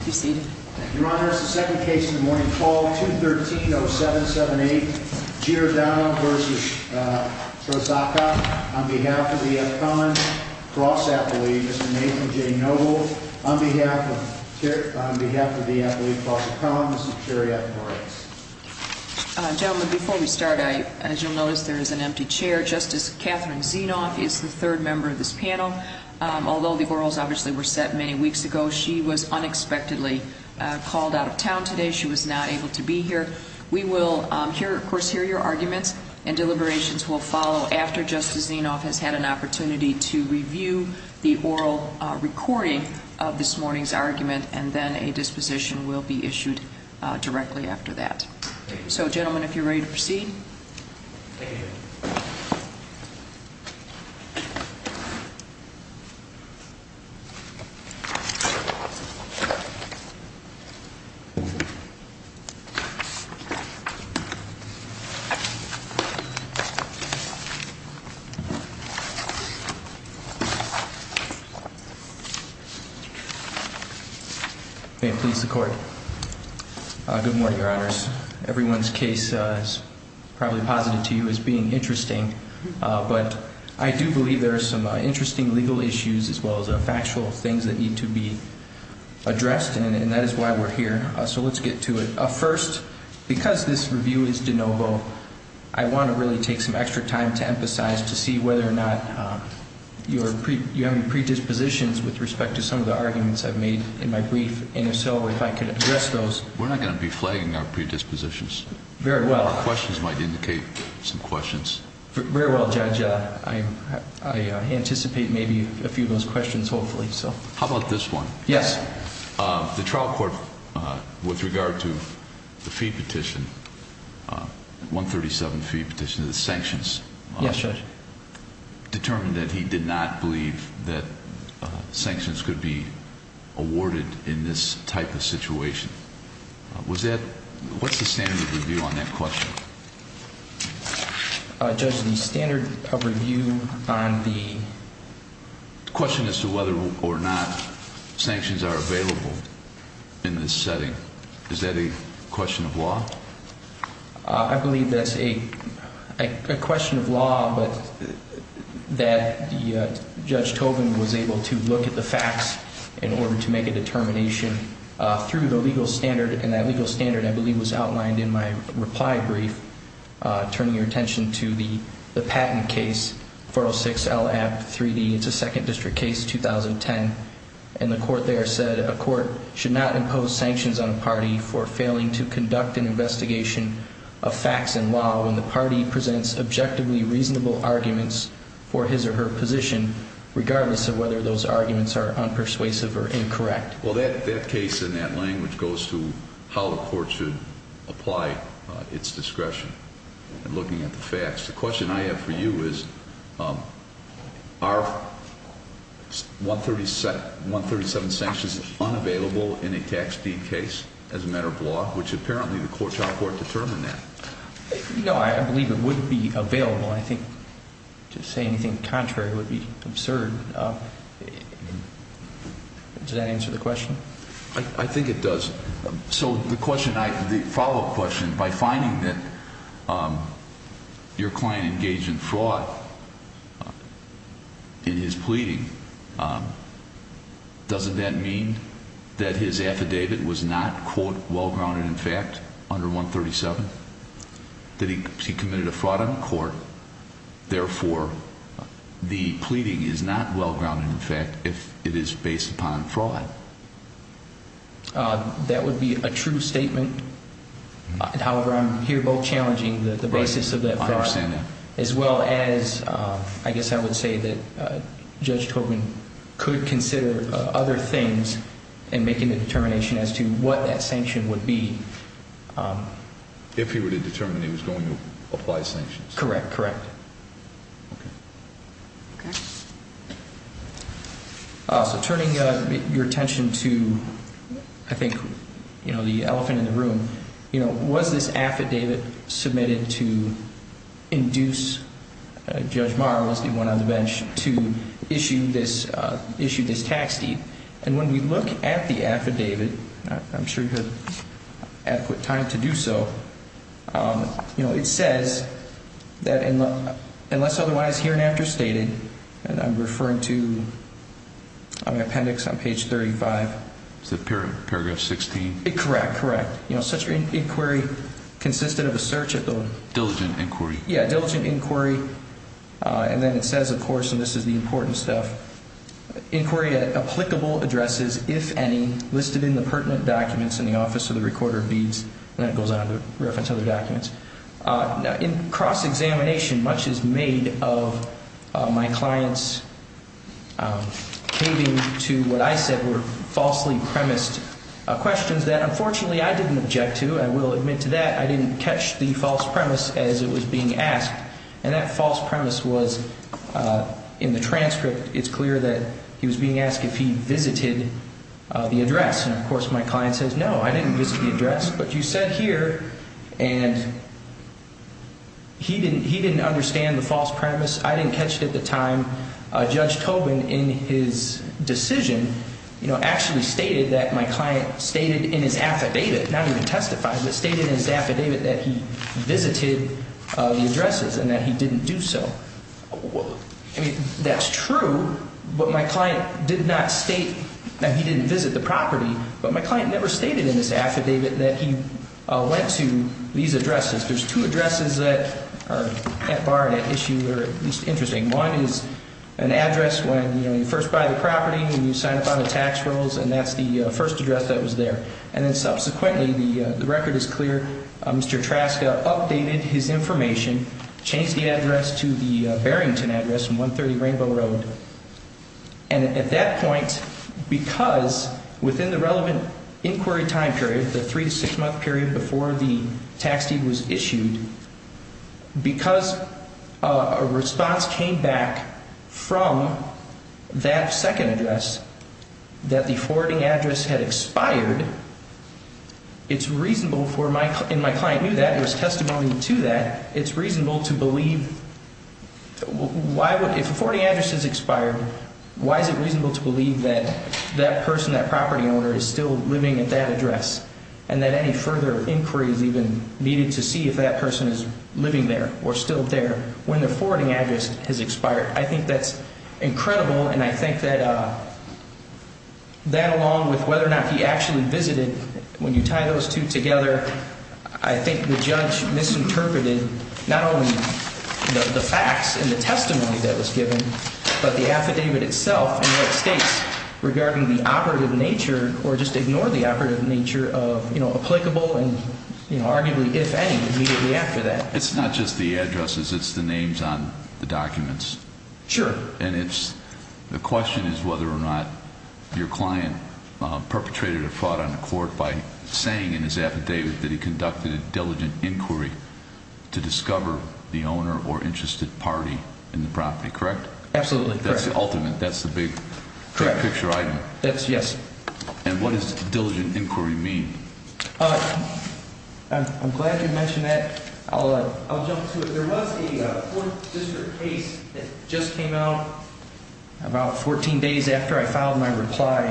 On behalf of the F-Con Cross-Athlete, Mr. Nathan J. Noble. On behalf of the Athlete Cross-Athlete, Mr. Terry F. Morales. Gentlemen, before we start, as you'll notice there is an empty chair. Justice Catherine Zinoff is the third member of this panel. Although the orals obviously were set many weeks ago, she was unexpectedly called out of town today. She was not able to be here. We will hear, of course, hear your arguments and deliberations will follow after Justice Zinoff has had an opportunity to review the oral recording of this morning's argument and then a disposition will be issued directly after that. So gentlemen, if you're ready to proceed. May it please the Court. Good morning, Your Honors. Everyone's case is probably posited to you as being interesting, but I do believe there are some interesting legal issues as well as factual things that need to be addressed and that is why we're here. So let's get to it. First, because this review is de novo, I want to really take some extra time to emphasize to see whether or not you have any predispositions with respect to some of the arguments I've made in my brief and if so, if I could address those. We're not going to be flagging our predispositions. Very well. The questions might indicate some questions. Very well, Judge. I anticipate maybe a few of those questions, hopefully. How about this one? Yes. The trial court, with regard to the fee petition, 137 fee petition, the sanctions. Yes, Judge. Determined that he did not believe that sanctions could be awarded in this type of situation. What's the standard of review on that question? Judge, the standard of review on the... The question as to whether or not sanctions are available in this setting, is that a question of law? I believe that's a question of law, but that Judge Tobin was able to look at the facts in order to make a determination through the legal standard, and that legal standard, I believe, was outlined in my reply brief, turning your attention to the patent case, 406 LAPP 3D. It's a second district case, 2010. And the court there said a court should not impose sanctions on a party for failing to conduct an investigation of facts and law when the party presents objectively reasonable arguments for his or her position, regardless of whether those arguments are unpersuasive or incorrect. Well, that case in that language goes to how the court should apply its discretion in looking at the facts. The question I have for you is, are 137 sanctions unavailable in a tax deed case as a matter of law, which apparently the child court determined that. No, I believe it would be available. I think to say anything contrary would be absurd. Does that answer the question? I think it does. So the follow-up question, by finding that your client engaged in fraud in his pleading, doesn't that mean that his affidavit was not, quote, well-grounded in fact under 137, that he committed a fraud on the court, therefore the pleading is not well-grounded in fact if it is based upon fraud? That would be a true statement. However, I'm here both challenging the basis of that fraud as well as, I guess I would say, that Judge Tobin could consider other things in making a determination as to what that sanction would be. If he were to determine he was going to apply sanctions? Correct, correct. Okay. Okay. So turning your attention to, I think, you know, the elephant in the room, was this affidavit submitted to induce Judge Maher, who was the one on the bench, to issue this tax deed? And when we look at the affidavit, I'm sure you have adequate time to do so, it says that unless otherwise here and after stated, and I'm referring to the appendix on page 35. Is that paragraph 16? Correct, correct. You know, such inquiry consisted of a search of those. Diligent inquiry. Yeah, diligent inquiry. And then it says, of course, and this is the important stuff, inquiry at applicable addresses, if any, listed in the pertinent documents in the office of the recorder of deeds. And then it goes on to reference other documents. In cross-examination, much is made of my client's caving to what I said were falsely premised questions that, unfortunately, I didn't object to. I will admit to that. I didn't catch the false premise as it was being asked. And that false premise was in the transcript. It's clear that he was being asked if he visited the address. And, of course, my client says, no, I didn't visit the address. But you said here, and he didn't understand the false premise. I didn't catch it at the time. Judge Tobin, in his decision, you know, actually stated that my client stated in his affidavit, not even testified, but stated in his affidavit that he visited the addresses and that he didn't do so. I mean, that's true, but my client did not state that he didn't visit the property. But my client never stated in his affidavit that he went to these addresses. There's two addresses that are at bar and at issue that are at least interesting. One is an address when, you know, you first buy the property and you sign up on the tax rolls, and that's the first address that was there. And then, subsequently, the record is clear. Mr. Traska updated his information, changed the address to the Barrington address in 130 Rainbow Road. And at that point, because within the relevant inquiry time period, the three- to six-month period before the tax deed was issued, because a response came back from that second address that the forwarding address had expired, it's reasonable for my – and my client knew that. There was testimony to that. It's reasonable to believe – why would – if a forwarding address has expired, why is it reasonable to believe that that person, that property owner, is still living at that address and that any further inquiry is even needed to see if that person is living there or still there when the forwarding address has expired? I think that's incredible. And I think that that, along with whether or not he actually visited, when you tie those two together, I think the judge misinterpreted not only the facts and the testimony that was given, but the affidavit itself and what it states regarding the operative nature or just ignore the operative nature of, you know, applicable and, you know, arguably, if any, immediately after that. It's not just the addresses. It's the names on the documents. Sure. And it's – the question is whether or not your client perpetrated a fraud on the court by saying in his affidavit that he conducted a diligent inquiry to discover the owner or interested party in the property, correct? Absolutely correct. That's the ultimate – that's the big picture item. Correct. That's – yes. And what does diligent inquiry mean? I'm glad you mentioned that. I'll jump to it. There was a 4th District case that just came out about 14 days after I filed my reply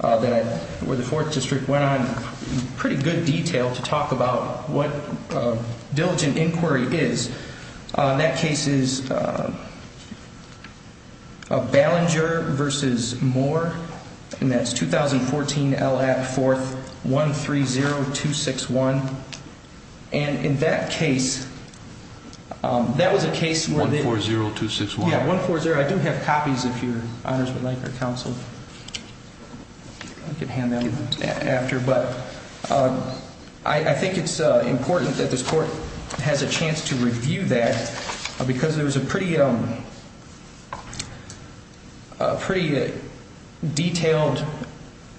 that – where the 4th District went on in pretty good detail to talk about what diligent inquiry is. That case is Ballinger v. Moore, and that's 2014 L.A. 4th, 130261. And in that case, that was a case where they – 140261. Yes, 140. I do have copies if your honors would like or counsel. I can hand that to you after, but I think it's important that this court has a chance to review that because there was a pretty – a pretty detailed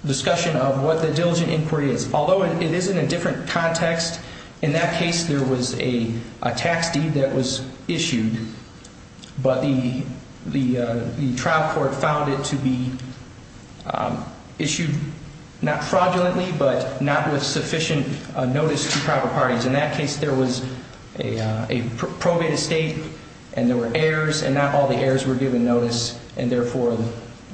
discussion of what the diligent inquiry is. Although it is in a different context, in that case there was a tax deed that was issued, but the trial court found it to be issued not fraudulently but not with sufficient notice to proper parties. In that case, there was a probate estate and there were heirs, and not all the heirs were given notice, and therefore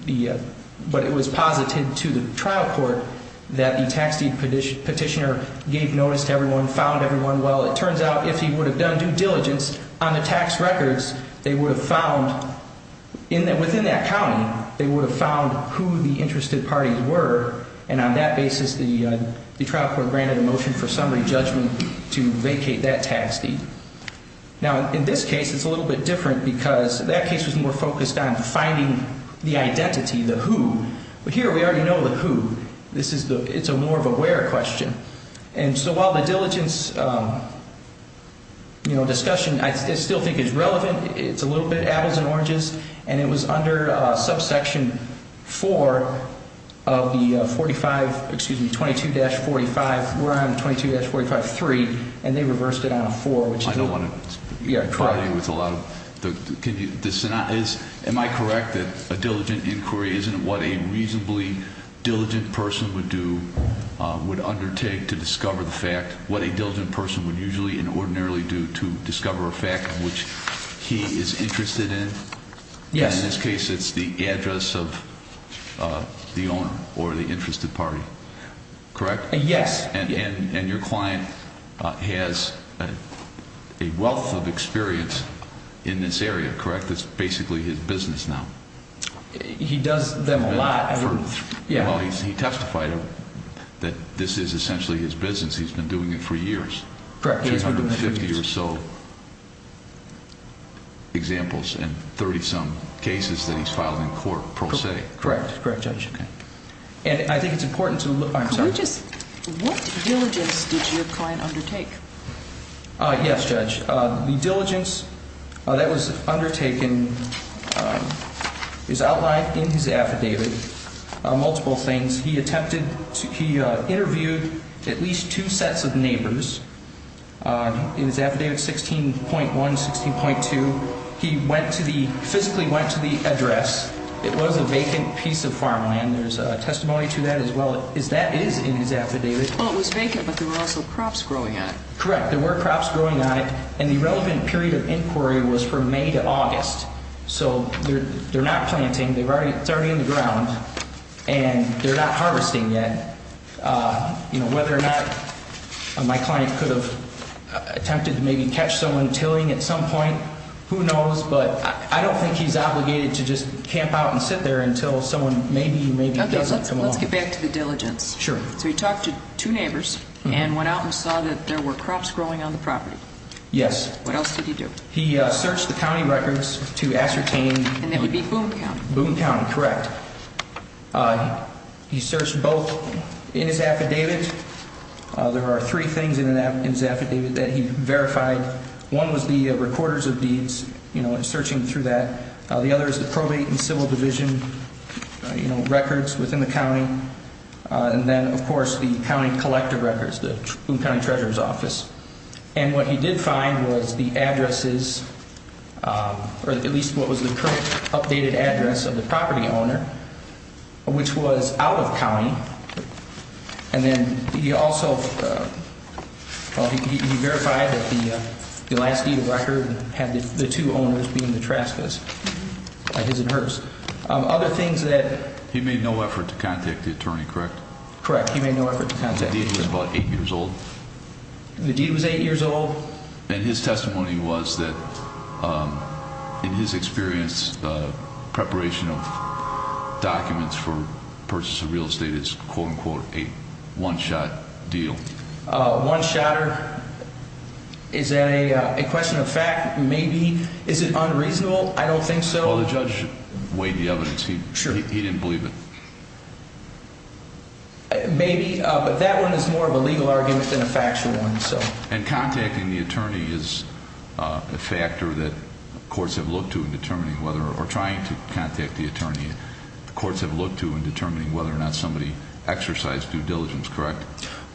the – but it was posited to the trial court that the tax deed petitioner gave notice to everyone, found everyone well. It turns out if he would have done due diligence on the tax records, they would have found – within that county, they would have found who the interested parties were, and on that basis the trial court granted a motion for summary judgment to vacate that tax deed. Now, in this case, it's a little bit different because that case was more focused on finding the identity, the who. But here we already know the who. This is the – it's a more of a where question. And so while the diligence, you know, discussion I still think is relevant, it's a little bit apples and oranges, and it was under subsection 4 of the 45 – excuse me, 22-45. We're on 22-45.3, and they reversed it on a 4, which is – I don't want to – Yeah, correct. Am I correct that a diligent inquiry isn't what a reasonably diligent person would do, would undertake to discover the fact, what a diligent person would usually and ordinarily do to discover a fact in which he is interested in? Yes. In this case, it's the address of the owner or the interested party, correct? Yes. And your client has a wealth of experience in this area, correct? That's basically his business now. He does them a lot. Well, he testified that this is essentially his business. He's been doing it for years. Correct. 250 or so examples and 30-some cases that he's filed in court pro se. Correct. Correct, Judge. And I think it's important to – I'm sorry. What diligence did your client undertake? Yes, Judge. The diligence that was undertaken is outlined in his affidavit, multiple things. He attempted to – he interviewed at least two sets of neighbors. In his affidavit 16.1, 16.2, he went to the – physically went to the address. It was a vacant piece of farmland. There's testimony to that as well. That is in his affidavit. Well, it was vacant, but there were also crops growing on it. Correct. There were crops growing on it, and the relevant period of inquiry was from May to August. So they're not planting. It's already in the ground, and they're not harvesting yet. Whether or not my client could have attempted to maybe catch someone tilling at some point, who knows? But I don't think he's obligated to just camp out and sit there until someone maybe, maybe doesn't come on. Okay, let's get back to the diligence. Sure. So he talked to two neighbors and went out and saw that there were crops growing on the property. Yes. What else did he do? He searched the county records to ascertain – And that would be Boone County. Boone County, correct. He searched both in his affidavit. There are three things in his affidavit that he verified. One was the recorders of deeds, you know, and searching through that. The other is the probate and civil division, you know, records within the county. And then, of course, the county collective records, the Boone County Treasurer's Office. And what he did find was the addresses, or at least what was the current updated address of the property owner, which was out of county. And then he also – well, he verified that the last deed of record had the two owners being the Traskas, his and hers. Other things that – He made no effort to contact the attorney, correct? Correct. He made no effort to contact the attorney. The deed was about eight years old? The deed was eight years old. And his testimony was that, in his experience, preparation of documents for purchase of real estate is, quote, unquote, a one-shot deal. One-shotter. Is that a question of fact? Maybe. Is it unreasonable? I don't think so. Well, the judge weighed the evidence. He didn't believe it. Maybe. But that one is more of a legal argument than a factual one. And contacting the attorney is a factor that courts have looked to in determining whether – or trying to contact the attorney. Courts have looked to in determining whether or not somebody exercised due diligence, correct?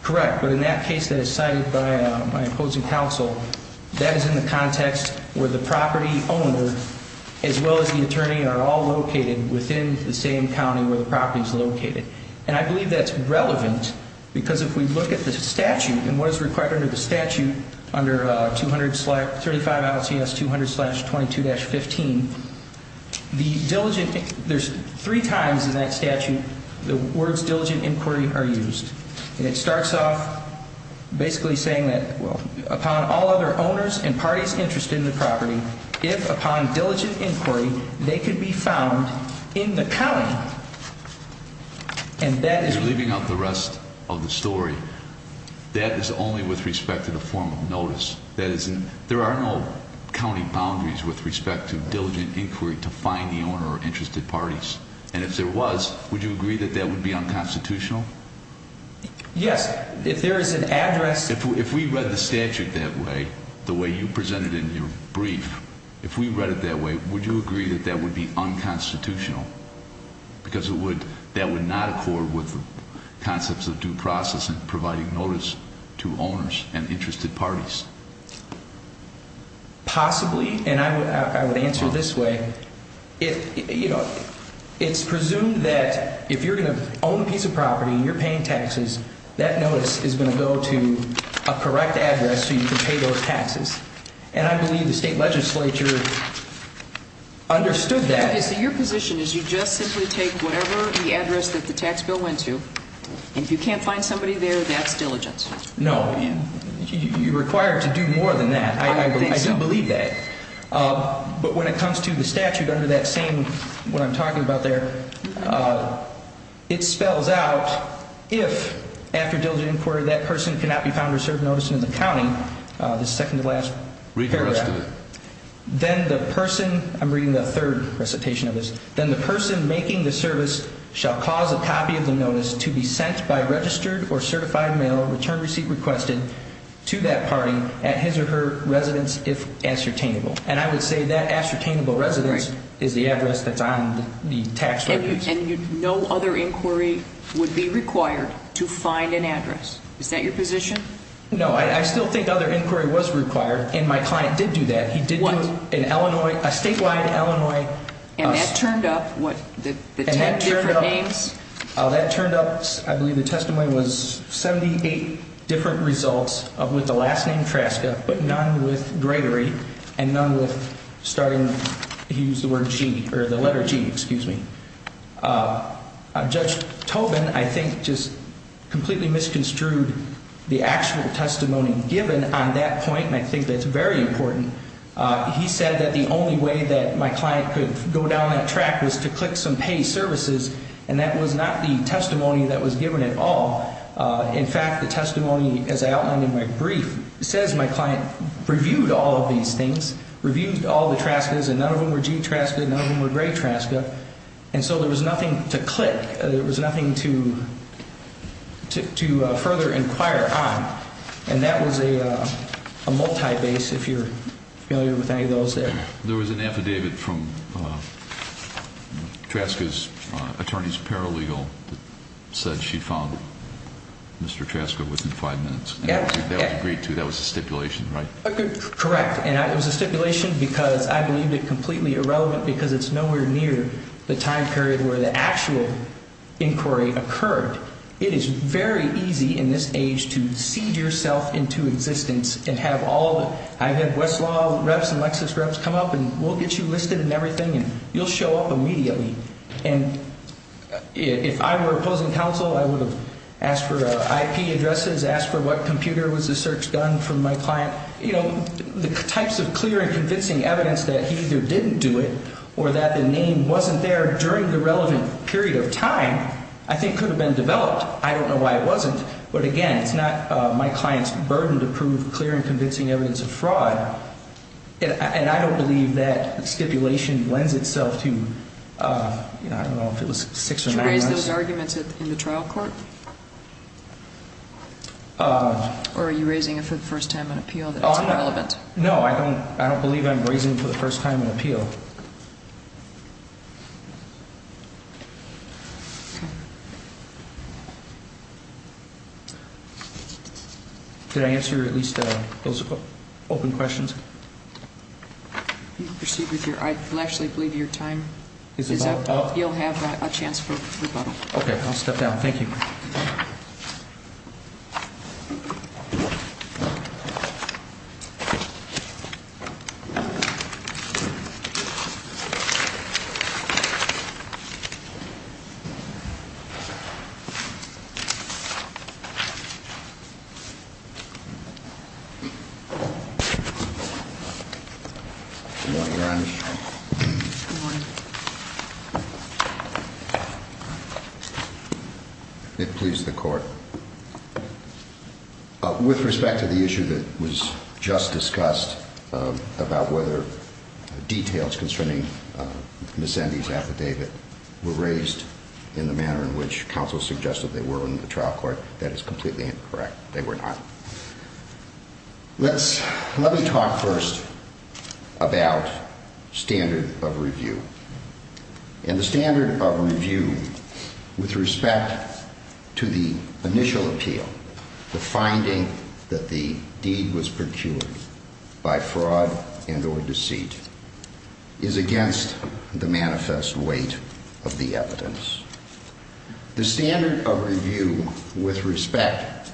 Correct. But in that case that is cited by my opposing counsel, that is in the context where the property owner, as well as the attorney, are all located within the same county where the property is located. And I believe that's relevant because if we look at the statute and what is required under the statute, under 235 ILCS 200-22-15, the diligent – there's three times in that statute the words diligent inquiry are used. And it starts off basically saying that upon all other owners and parties interested in the property, if upon diligent inquiry, they could be found in the county. And that is – You're leaving out the rest of the story. That is only with respect to the form of notice. That is – there are no county boundaries with respect to diligent inquiry to find the owner or interested parties. And if there was, would you agree that that would be unconstitutional? Yes. If there is an address – If we read the statute that way, the way you presented in your brief, if we read it that way, would you agree that that would be unconstitutional? Because it would – that would not accord with the concepts of due process and providing notice to owners and interested parties. Possibly. And I would answer this way. It's presumed that if you're going to own a piece of property and you're paying taxes, that notice is going to go to a correct address so you can pay those taxes. And I believe the state legislature understood that. Okay, so your position is you just simply take whatever the address that the tax bill went to, and if you can't find somebody there, that's diligent. No. You're required to do more than that. I do believe that. I don't think so. But when it comes to the statute under that same – what I'm talking about there, it spells out if after diligent inquiry that person cannot be found or served notice in the county, the second to last paragraph, Read the rest of it. I'm reading the third recitation of this. And I would say that ascertainable residence is the address that's on the tax records. And no other inquiry would be required to find an address. Is that your position? No, I still think other inquiry was required, and my client did do that. He did do an Illinois – a statewide Illinois – And that turned up what, the 10 different names? That turned up – I believe the testimony was 78 different results with the last name Traska, but none with Gregory, and none with starting – he used the letter G, excuse me. Judge Tobin, I think, just completely misconstrued the actual testimony given on that point, and I think that's very important. He said that the only way that my client could go down that track was to click some pay services, and that was not the testimony that was given at all. In fact, the testimony, as I outlined in my brief, says my client reviewed all of these things, reviewed all the Traskas, and none of them were G Traska, none of them were Gregory Traska. And so there was nothing to click, there was nothing to further inquire on, and that was a multi-base, if you're familiar with any of those there. There was an affidavit from Traska's attorney's paralegal that said she found Mr. Traska within five minutes. That was agreed to, that was a stipulation, right? Correct, and it was a stipulation because I believed it completely irrelevant because it's nowhere near the time period where the actual inquiry occurred. It is very easy in this age to seed yourself into existence and have all the – I've had Westlaw reps and Lexis reps come up and we'll get you listed and everything, and you'll show up immediately. And if I were opposing counsel, I would have asked for IP addresses, asked for what computer was the search done from my client. You know, the types of clear and convincing evidence that he either didn't do it or that the name wasn't there during the relevant period of time I think could have been developed. I don't know why it wasn't, but again, it's not my client's burden to prove clear and convincing evidence of fraud. And I don't believe that stipulation lends itself to – I don't know if it was six or nine months. Did you raise those arguments in the trial court? Or are you raising it for the first time on appeal that it's irrelevant? No, I don't believe I'm raising it for the first time on appeal. Okay. Did I answer at least those open questions? You can proceed with your – I actually believe your time is up. Is it all up? You'll have a chance for rebuttal. Okay, I'll step down. Thank you. Thank you. Good morning, Your Honor. Good morning. It please the court. With respect to the issue that was just discussed about whether details concerning Miss Endy's affidavit were raised in the manner in which counsel suggested they were in the trial court, that is completely incorrect. They were not. Let's – let me talk first about standard of review. And the standard of review with respect to the initial appeal, the finding that the deed was procured by fraud and or deceit, is against the manifest weight of the evidence. The standard of review with respect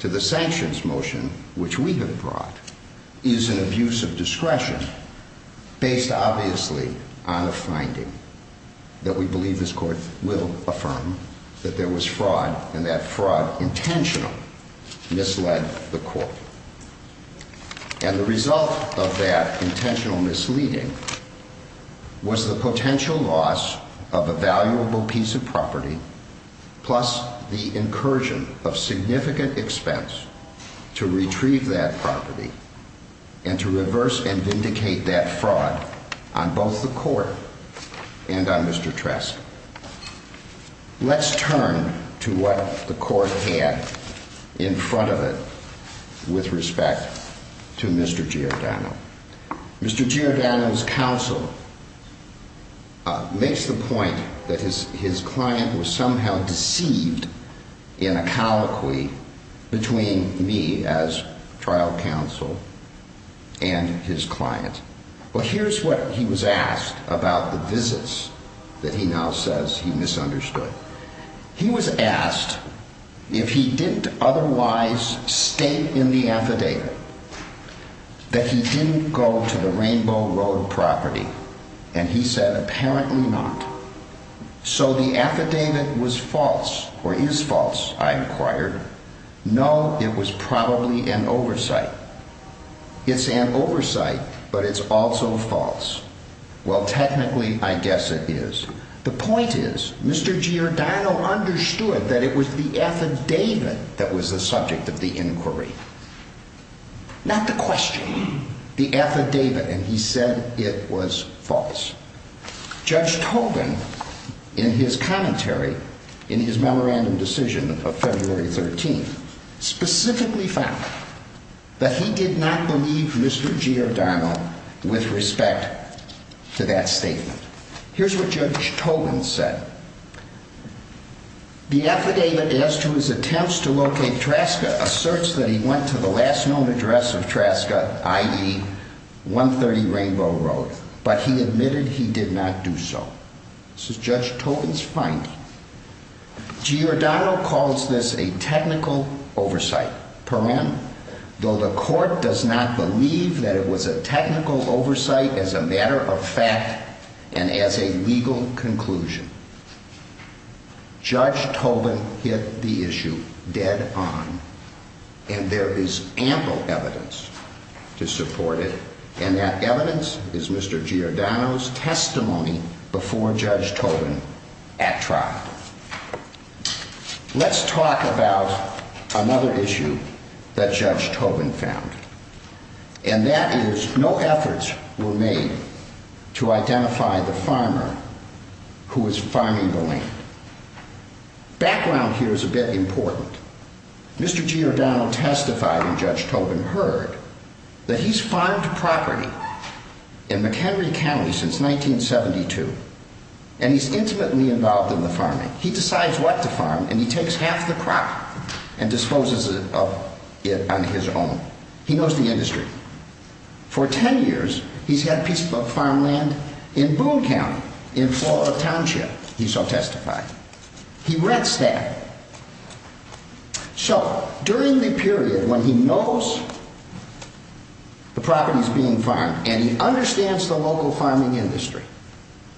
to the sanctions motion, which we have brought, is an abuse of discretion based obviously on a finding that we believe this court will affirm that there was fraud and that fraud intentional misled the court. And the result of that intentional misleading was the potential loss of a valuable piece of property plus the incursion of significant expense to retrieve that property and to reverse and vindicate that fraud on both the court and on Mr. Trask. Let's turn to what the court had in front of it with respect to Mr. Giordano. Mr. Giordano's counsel makes the point that his client was somehow deceived in a colloquy between me as trial counsel and his client. Well, here's what he was asked about the visits that he now says he misunderstood. He was asked if he didn't otherwise state in the affidavit that he didn't go to the Rainbow Road property, and he said apparently not. So the affidavit was false or is false, I inquired. No, it was probably an oversight. It's an oversight, but it's also false. Well, technically, I guess it is. The point is Mr. Giordano understood that it was the affidavit that was the subject of the inquiry. Not the question, the affidavit, and he said it was false. Judge Tobin, in his commentary, in his memorandum decision of February 13th, specifically found that he did not believe Mr. Giordano with respect to that statement. Here's what Judge Tobin said. The affidavit as to his attempts to locate Traska asserts that he went to the last known address of Traska, i.e. 130 Rainbow Road, but he admitted he did not do so. This is Judge Tobin's finding. Giordano calls this a technical oversight, though the court does not believe that it was a technical oversight as a matter of fact and as a legal conclusion. Judge Tobin hit the issue dead on, and there is ample evidence to support it, and that evidence is Mr. Giordano's testimony before Judge Tobin at trial. Let's talk about another issue that Judge Tobin found. And that is no efforts were made to identify the farmer who was farming the land. Background here is a bit important. Mr. Giordano testified, and Judge Tobin heard, that he's farmed property in McHenry County since 1972, and he's intimately involved in the farming. He decides what to farm, and he takes half the crop and disposes of it on his own. He knows the industry. For ten years, he's had a piece of farmland in Boone County, in Florida Township, he so testified. He rents that. So, during the period when he knows the property's being farmed, and he understands the local farming industry,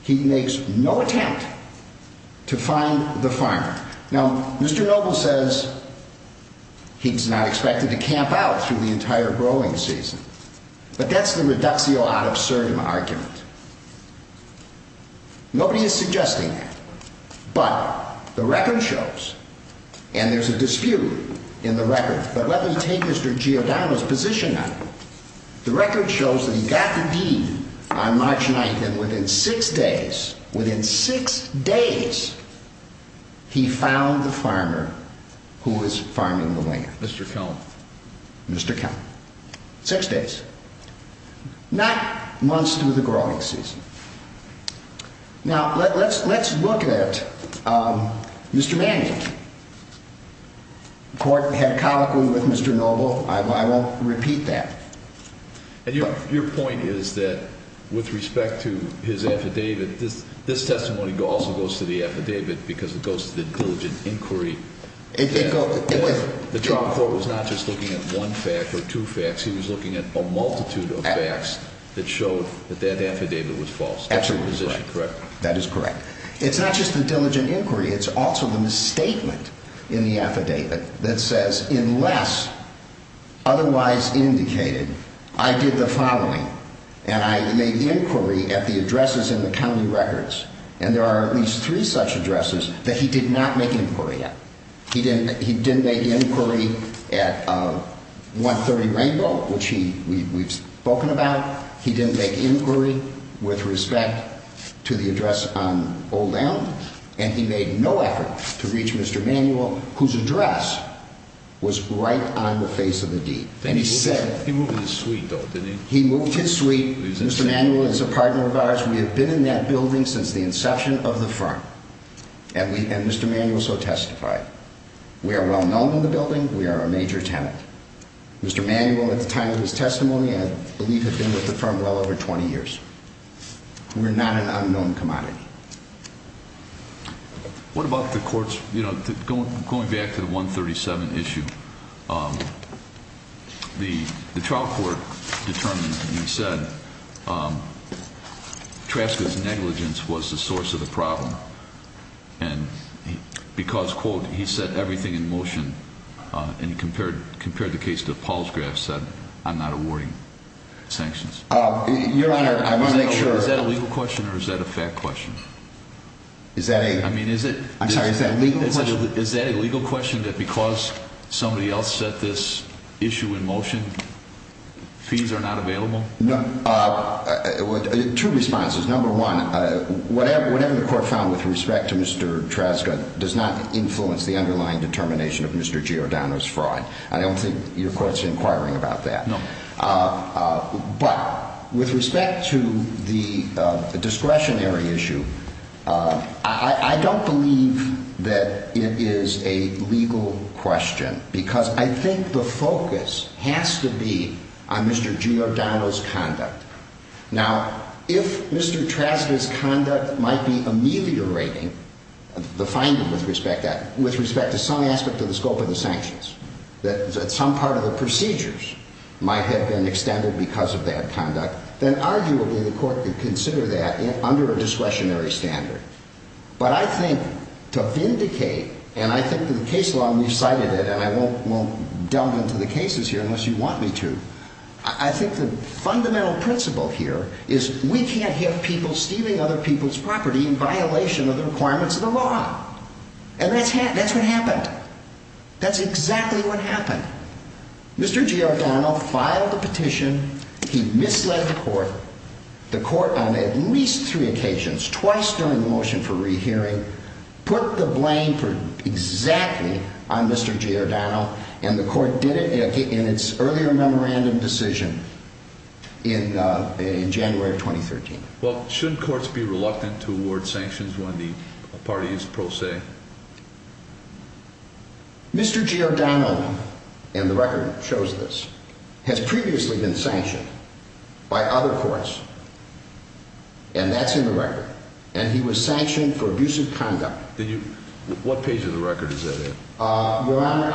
he makes no attempt to find the farmer. Now, Mr. Noble says he's not expected to camp out through the entire growing season, but that's the reductio ad absurdum argument. Nobody is suggesting that, but the record shows, and there's a dispute in the record, but let me take Mr. Giordano's position on it. The record shows that he got the deed on March 9th, and within six days, within six days, he found the farmer who was farming the land. Mr. Kelm. Mr. Kelm. Six days. Not months through the growing season. Now, let's look at Mr. Manning. The court had colloquy with Mr. Noble. I won't repeat that. And your point is that, with respect to his affidavit, this testimony also goes to the affidavit because it goes to the diligent inquiry. The trial court was not just looking at one fact or two facts, he was looking at a multitude of facts that showed that that affidavit was false. Absolutely correct. That is correct. It's not just the diligent inquiry, it's also the misstatement in the affidavit that says, unless otherwise indicated, I did the following, and I made inquiry at the addresses in the county records. And there are at least three such addresses that he did not make inquiry at. He didn't make inquiry at 130 Rainbow, which we've spoken about. He didn't make inquiry with respect to the address on Old Island. And he made no effort to reach Mr. Manuel, whose address was right on the face of the deed. He moved his suite, though, didn't he? He moved his suite. Mr. Manuel is a partner of ours. We have been in that building since the inception of the firm. And Mr. Manuel so testified. We are well known in the building. We are a major tenant. Mr. Manuel, at the time of his testimony, I believe, had been with the firm well over 20 years. We're not an unknown commodity. What about the court's, you know, going back to the 137 issue, the trial court determined, and he said, Traska's negligence was the source of the problem. And because, quote, he said everything in motion, and compared the case to Paul's graph, said, I'm not awarding sanctions. Your Honor, I want to make sure. Is that a legal question or is that a fact question? Is that a legal question? Is that a legal question that because somebody else set this issue in motion, fees are not available? No. Two responses. Number one, whatever the court found with respect to Mr. Traska does not influence the underlying determination of Mr. Giordano's fraud. I don't think your court's inquiring about that. No. But with respect to the discretionary issue, I don't believe that it is a legal question. Because I think the focus has to be on Mr. Giordano's conduct. Now, if Mr. Traska's conduct might be ameliorating the finding with respect to some aspect of the scope of the sanctions, that some part of the procedures might have been extended because of that conduct, then arguably the court could consider that under a discretionary standard. But I think to vindicate, and I think that the case law, and we've cited it, and I won't delve into the cases here unless you want me to, I think the fundamental principle here is we can't have people stealing other people's property in violation of the requirements of the law. And that's what happened. That's exactly what happened. Mr. Giordano filed a petition, he misled the court, the court on at least three occasions, twice during the motion for rehearing, put the blame for exactly on Mr. Giordano, and the court did it in its earlier memorandum decision in January of 2013. Well, shouldn't courts be reluctant to award sanctions when the party is pro se? Mr. Giordano, and the record shows this, has previously been sanctioned by other courts, and that's in the record. And he was sanctioned for abusive conduct. What page of the record is that in? Your Honor,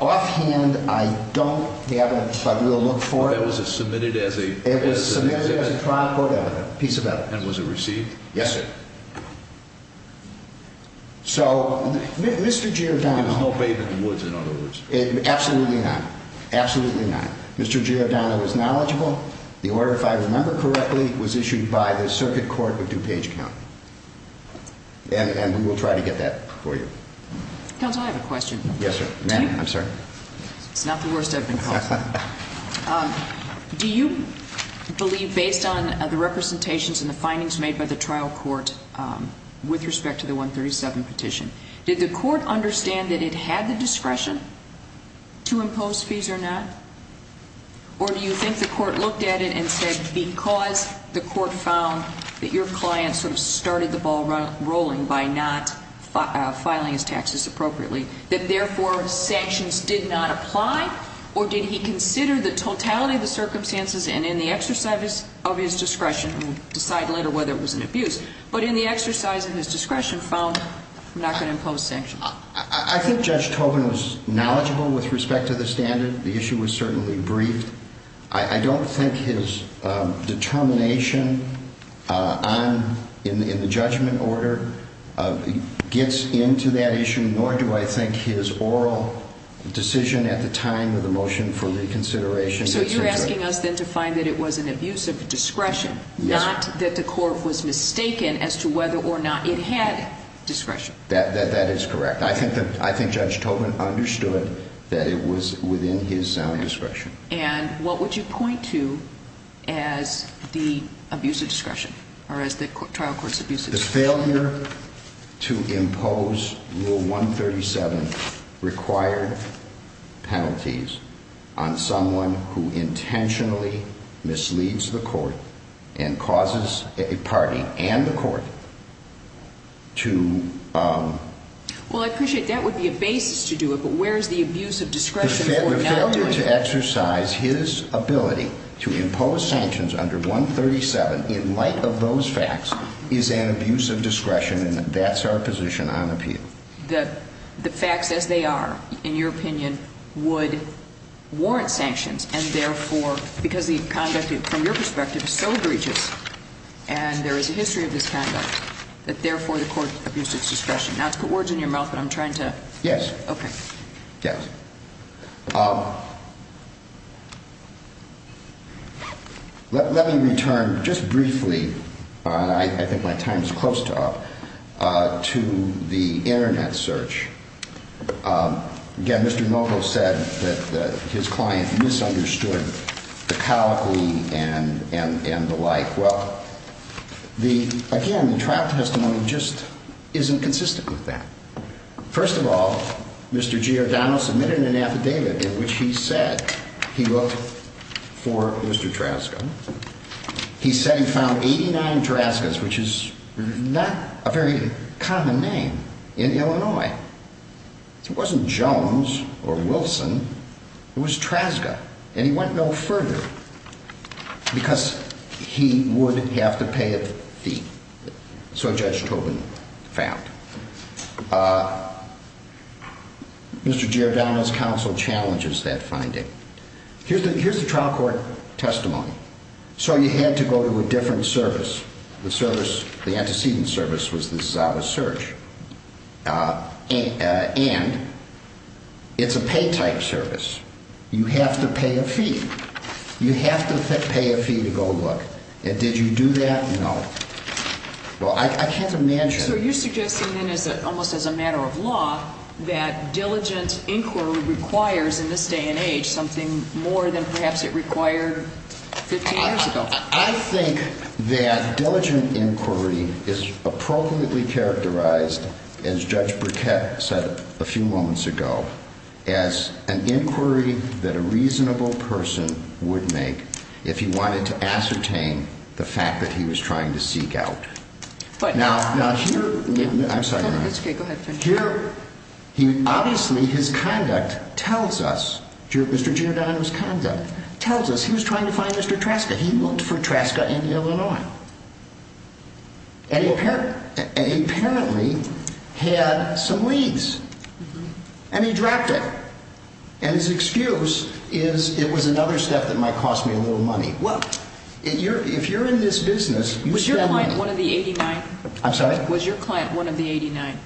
offhand, I don't have it, but we'll look for it. It was submitted as a trial court evidence, a piece of evidence. And was it received? Yes, sir. So, Mr. Giordano... There was no bathe in the woods, in other words. Absolutely not. Absolutely not. Mr. Giordano was knowledgeable. The order, if I remember correctly, was issued by the Circuit Court of DuPage County. And we will try to get that for you. Counsel, I have a question. Yes, sir. It's not the worst I've been called to. Do you believe, based on the representations and the findings made by the trial court with respect to the 137 petition, did the court understand that it had the discretion to impose fees or not? Or do you think the court looked at it and said, because the court found that your client sort of started the ball rolling by not filing his taxes appropriately, that therefore sanctions did not apply? Or did he consider the totality of the circumstances and in the exercise of his discretion, and we'll decide later whether it was an abuse, but in the exercise of his discretion found, I'm not going to impose sanctions. I think Judge Tobin was knowledgeable with respect to the standard. The issue was certainly briefed. I don't think his determination in the judgment order gets into that issue, nor do I think his oral decision at the time of the motion for reconsideration. So you're asking us then to find that it was an abuse of discretion, not that the court was mistaken as to whether or not it had discretion. That is correct. I think Judge Tobin understood that it was within his sound discretion. And what would you point to as the abuse of discretion or as the trial court's abuse of discretion? The failure to impose Rule 137 required penalties on someone who intentionally misleads the court and causes a party and the court to... Well, I appreciate that would be a basis to do it, but where is the abuse of discretion for not doing it? Failure to exercise his ability to impose sanctions under 137 in light of those facts is an abuse of discretion, and that's our position on appeal. The facts as they are, in your opinion, would warrant sanctions, and therefore, because the conduct from your perspective is so egregious, and there is a history of this conduct, that therefore the court abused its discretion. Now, it's words in your mouth, but I'm trying to... Yes. Okay. Yes. Let me return just briefly, and I think my time is close to up, to the Internet search. Again, Mr. Mokau said that his client misunderstood the caliphy and the like. Well, again, the trial testimony just isn't consistent with that. First of all, Mr. Giordano submitted an affidavit in which he said he looked for Mr. Traska. He said he found 89 Traskas, which is not a very common name in Illinois. It wasn't Jones or Wilson. It was Traska, and he went no further because he would have to pay a fee. So Judge Tobin found. Mr. Giordano's counsel challenges that finding. Here's the trial court testimony. So you had to go to a different service. The service, the antecedent service, was the Zabas Search. And it's a pay-type service. You have to pay a fee. You have to pay a fee to go look. And did you do that? No. Well, I can't imagine... So are you suggesting then, almost as a matter of law, that diligent inquiry requires, in this day and age, something more than perhaps it required 15 years ago? I think that diligent inquiry is appropriately characterized, as Judge Burkett said a few moments ago, as an inquiry that a reasonable person would make if he wanted to ascertain the fact that he was trying to seek out. Now, here... I'm sorry. It's okay. Go ahead. Obviously, his conduct tells us... Mr. Giordano's conduct tells us he was trying to find Mr. Traska. He looked for Traska in Illinois. And he apparently had some leads. And he dropped it. And his excuse is, it was another step that might cost me a little money. Well, if you're in this business, you spend money... Was your client one of the 89? I'm sorry? Was your client one of the 89?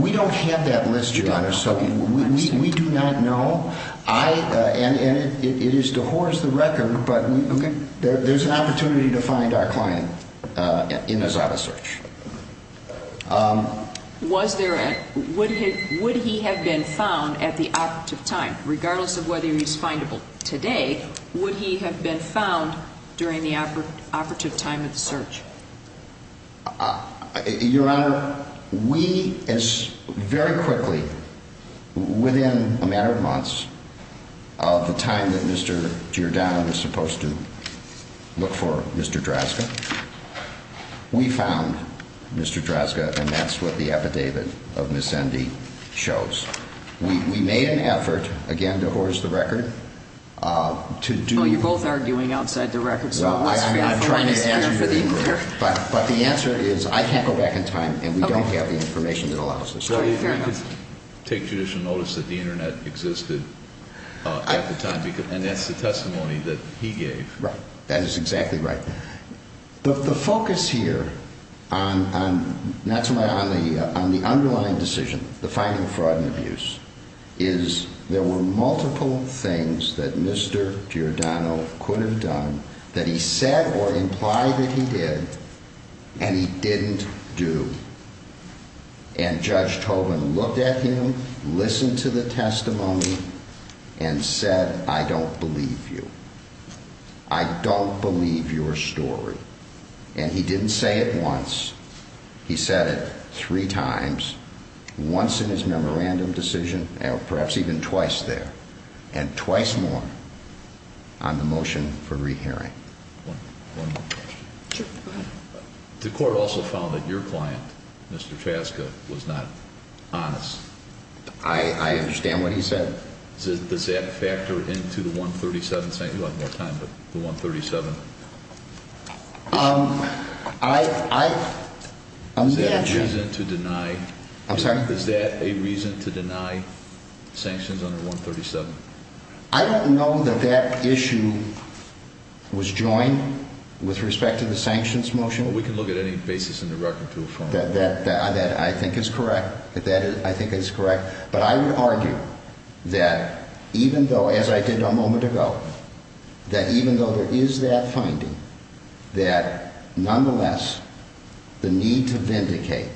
We don't have that list, Your Honor, so we do not know. And it is to horse the record, but there's an opportunity to find our client in his auto search. Was there a... Would he have been found at the operative time, regardless of whether he's findable today? Would he have been found during the operative time of the search? Your Honor, we, very quickly, within a matter of months of the time that Mr. Giordano was supposed to look for Mr. Traska, we found Mr. Traska, and that's what the epidemic of Missendi shows. We made an effort, again, to horse the record, to do... Oh, you're both arguing outside the records. I'm trying to answer your inquiry. But the answer is, I can't go back in time, and we don't have the information that allows us to. Take judicial notice that the Internet existed at the time, and that's the testimony that he gave. Right. That is exactly right. The focus here on the underlying decision, the finding of fraud and abuse, is there were multiple things that Mr. Giordano could have done that he said or implied that he did, and he didn't do. And Judge Tobin looked at him, listened to the testimony, and said, I don't believe you. I don't believe your story. And he didn't say it once. He said it three times, once in his memorandum decision, perhaps even twice there, and twice more on the motion for re-hearing. One more question. The court also found that your client, Mr. Traska, was not honest. I understand what he said. Does that factor into the 137? You'll have more time, but the 137. I'm not sure. Is that a reason to deny sanctions under 137? I don't know that that issue was joined with respect to the sanctions motion. Well, we can look at any basis in the record to affirm that. That I think is correct. But I would argue that even though, as I did a moment ago, that even though there is that finding, that nonetheless, the need to vindicate,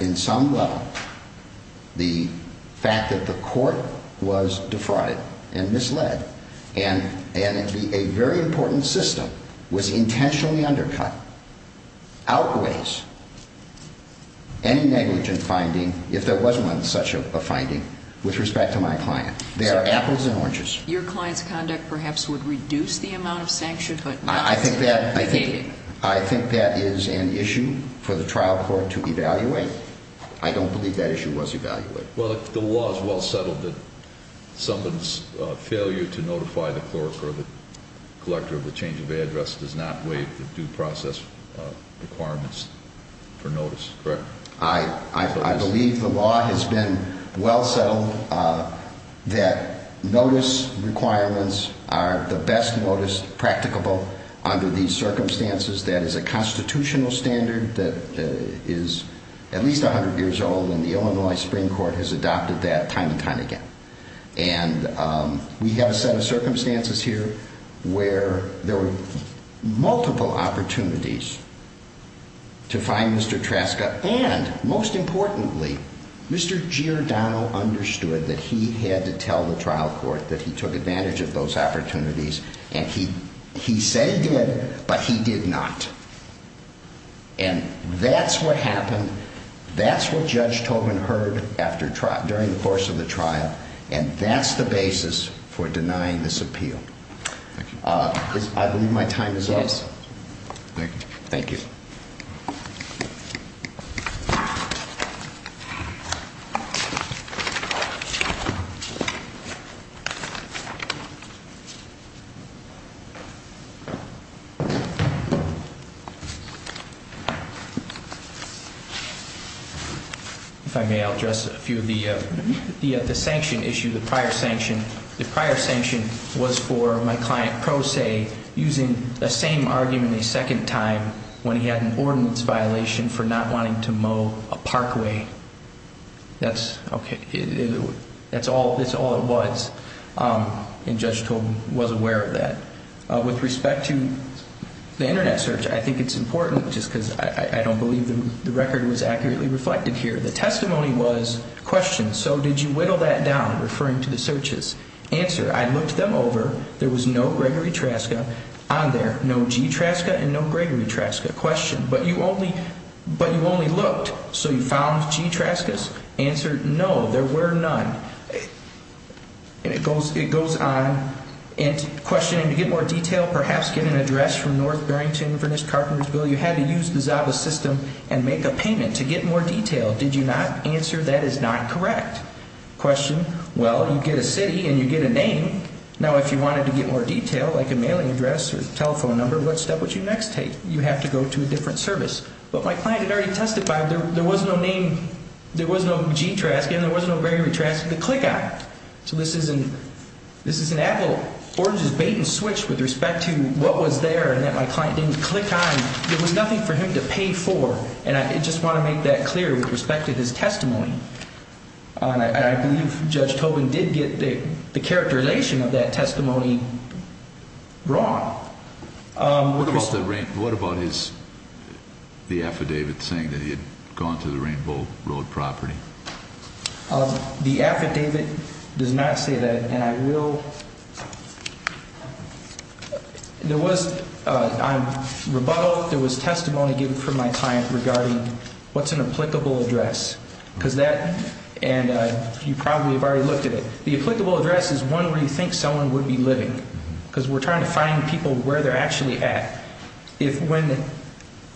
in some level, the fact that the court was defrauded and misled, and a very important system was intentionally undercut, outweighs any negligent finding. If there wasn't such a finding, with respect to my client. They are apples and oranges. Your client's conduct perhaps would reduce the amount of sanctions, but not to vindicate. I think that is an issue for the trial court to evaluate. I don't believe that issue was evaluated. Well, the law is well settled that someone's failure to notify the clerk or the collector of the change of address does not waive the due process requirements for notice, correct? I believe the law has been well settled that notice requirements are the best notice practicable under these circumstances. That is a constitutional standard that is at least 100 years old, and the Illinois Supreme Court has adopted that time and time again. And we have a set of circumstances here where there were multiple opportunities to find Mr. Traska, and most importantly, Mr. Giordano understood that he had to tell the trial court that he took advantage of those opportunities, and he said he did, but he did not. And that's what happened. That's what Judge Tobin heard during the course of the trial, and that's the basis for denying this appeal. I believe my time is up. Thank you. If I may, I'll address a few of the sanction issues, the prior sanction. The prior sanction was for my client, Pro Se, using the same argument a second time when he had an ordinance violation for not wanting to mow a parkway. That's all it was, and Judge Tobin was aware of that. With respect to the Internet search, I think it's important, just because I don't believe the record was accurately reflected here. The testimony was, question, so did you whittle that down, referring to the searches? Answer, I looked them over, there was no Gregory Traska on there, no G. Traska and no Gregory Traska. Question, but you only looked, so you found G. Traskas? Answer, no, there were none. And it goes on, and questioning, to get more detail, perhaps get an address from North Barrington, Furnished Carpentersville, you had to use the ZABA system and make a payment. To get more detail, did you not? Answer, that is not correct. Question, well, you get a city and you get a name. Now, if you wanted to get more detail, like a mailing address or telephone number, what step would you next take? You have to go to a different service. But my client had already testified, there was no name, there was no G. Traska and there was no Gregory Traska to click on. So this is an apple, orange is bait and switch with respect to what was there and that my client didn't click on. There was nothing for him to pay for, and I just want to make that clear with respect to his testimony. And I believe Judge Tobin did get the characterization of that testimony wrong. What about his, the affidavit saying that he had gone to the Rainbow Road property? The affidavit does not say that, and I will, there was, on rebuttal, there was testimony given from my client regarding what's an applicable address. Because that, and you probably have already looked at it. The applicable address is one where you think someone would be living. Because we're trying to find people where they're actually at. If when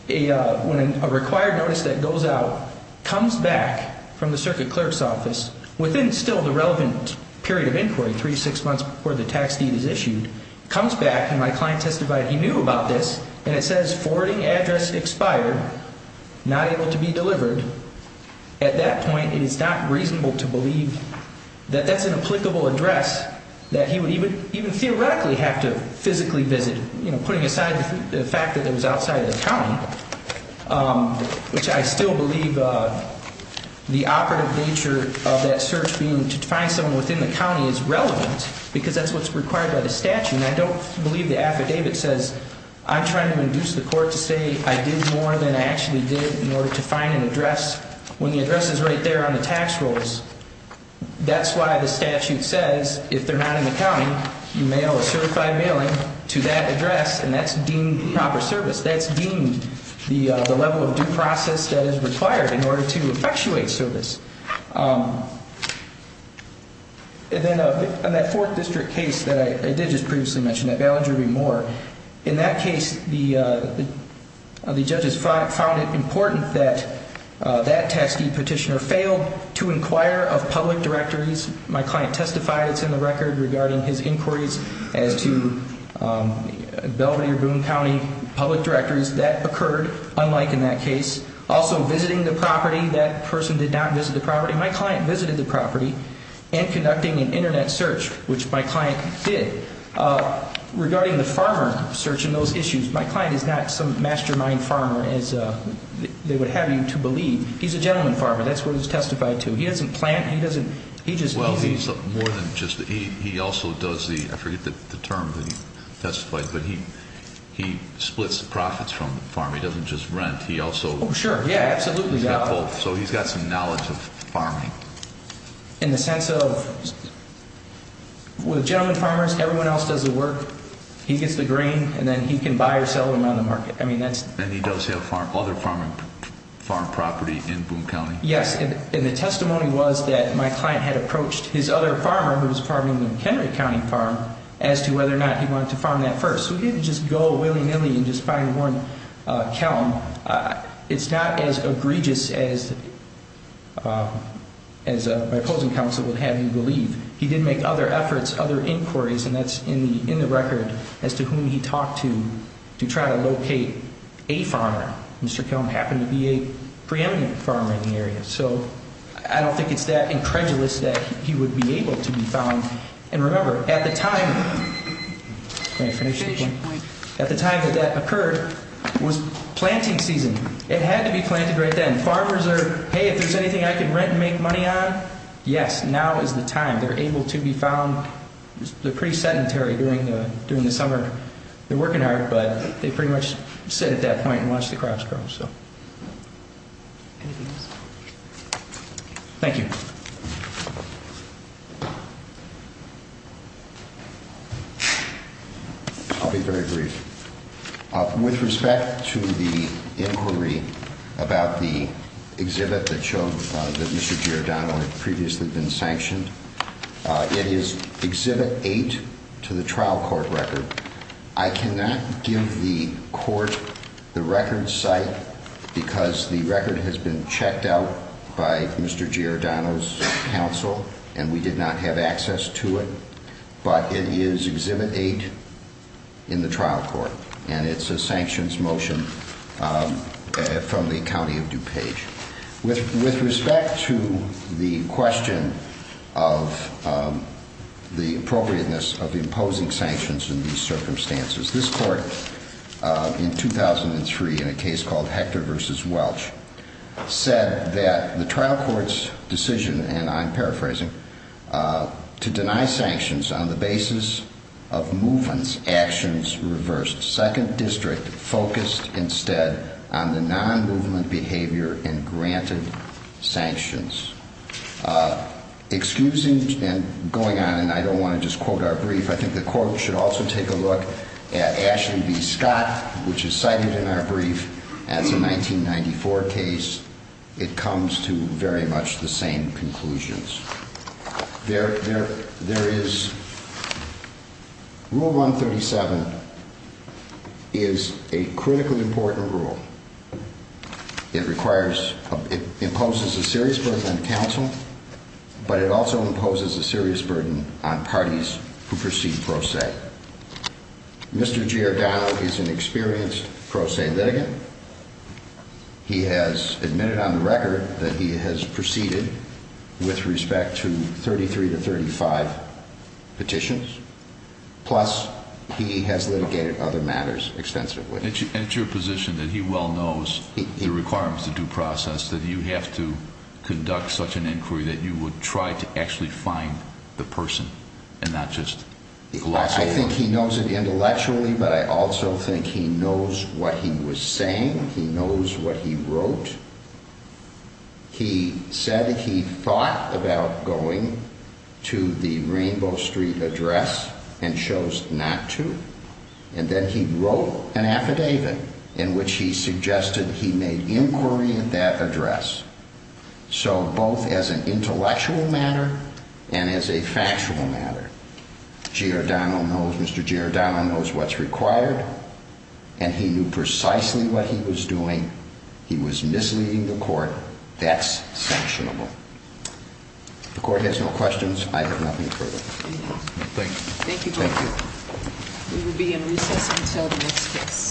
a required notice that goes out comes back from the circuit clerk's office, within still the relevant period of inquiry, three to six months before the tax deed is issued, comes back and my client testified he knew about this, and it says forwarding address expired, not able to be delivered, at that point it is not reasonable to believe that that's an applicable address that he would even theoretically have to physically visit. You know, putting aside the fact that it was outside of the county, which I still believe the operative nature of that search being to find someone within the county is relevant, because that's what's required by the statute, and I don't believe the affidavit says, I'm trying to induce the court to say I did more than I actually did in order to find an address. When the address is right there on the tax rolls, that's why the statute says if they're not in the county, you mail a certified mailing to that address, and that's deemed proper service. That's deemed the level of due process that is required in order to effectuate service. And then on that fourth district case that I did just previously mention, that bail injury remore, in that case the judges found it important that that tax deed petitioner failed to inquire of public directories. My client testified, it's in the record, regarding his inquiries as to Belvidere Boone County public directories. That occurred, unlike in that case. Also visiting the property. That person did not visit the property. My client visited the property and conducting an internet search, which my client did, regarding the farmer search and those issues. My client is not some mastermind farmer as they would have you to believe. He's a gentleman farmer. That's what he's testified to. He doesn't plant. He also does the, I forget the term that he testified, but he splits the profits from the farm. He doesn't just rent. Sure, yeah, absolutely. So he's got some knowledge of farming. In the sense of, with gentleman farmers, everyone else does the work, he gets the grain, and then he can buy or sell it around the market. And he does have other farm property in Boone County? Yes, and the testimony was that my client had approached his other farmer, who was farming the McHenry County farm, as to whether or not he wanted to farm that first. So he didn't just go willy-nilly and just find one cow. It's not as egregious as my opposing counsel would have you believe. He did make other efforts, other inquiries, and that's in the record, as to whom he talked to, to try to locate a farmer. Mr. Kelm happened to be a preeminent farmer in the area. So I don't think it's that incredulous that he would be able to be found. And remember, at the time that that occurred was planting season. It had to be planted right then. Farmers are, hey, if there's anything I can rent and make money on, yes, now is the time. They're able to be found. They're pretty sedentary during the summer. They're working hard, but they pretty much sit at that point and watch the crops grow. Thank you. I'll be very brief. With respect to the inquiry about the exhibit that showed that Mr. Giordano had previously been sanctioned, it is Exhibit 8 to the trial court record. I cannot give the court the record site because the record has been checked out by Mr. Giordano's counsel, and we did not have access to it. But it is Exhibit 8 in the trial court, and it's a sanctions motion from the County of DuPage. With respect to the question of the appropriateness of imposing sanctions in these circumstances, this court in 2003, in a case called Hector v. Welch, said that the trial court's decision, and I'm paraphrasing, to deny sanctions on the basis of movements, actions reversed. The second district focused instead on the non-movement behavior and granted sanctions. Excusing and going on, and I don't want to just quote our brief, I think the court should also take a look at Ashley v. Scott, which is cited in our brief as a 1994 case. It comes to very much the same conclusions. Rule 137 is a critically important rule. It imposes a serious burden on counsel, but it also imposes a serious burden on parties who proceed pro se. Mr. Giordano is an experienced pro se litigant. He has admitted on the record that he has proceeded with respect to 33 to 35 petitions, plus he has litigated other matters extensively. And it's your position that he well knows the requirements of due process, that you have to conduct such an inquiry that you would try to actually find the person, and not just gloss over it? I think he knows it intellectually, but I also think he knows what he was saying. He knows what he wrote. He said he thought about going to the Rainbow Street address and chose not to. And then he wrote an affidavit in which he suggested he made inquiry at that address. So both as an intellectual matter and as a factual matter. Mr. Giordano knows what's required, and he knew precisely what he was doing. He was misleading the court. That's sanctionable. The court has no questions. I have nothing further. Thank you. We will be in recess until the next case.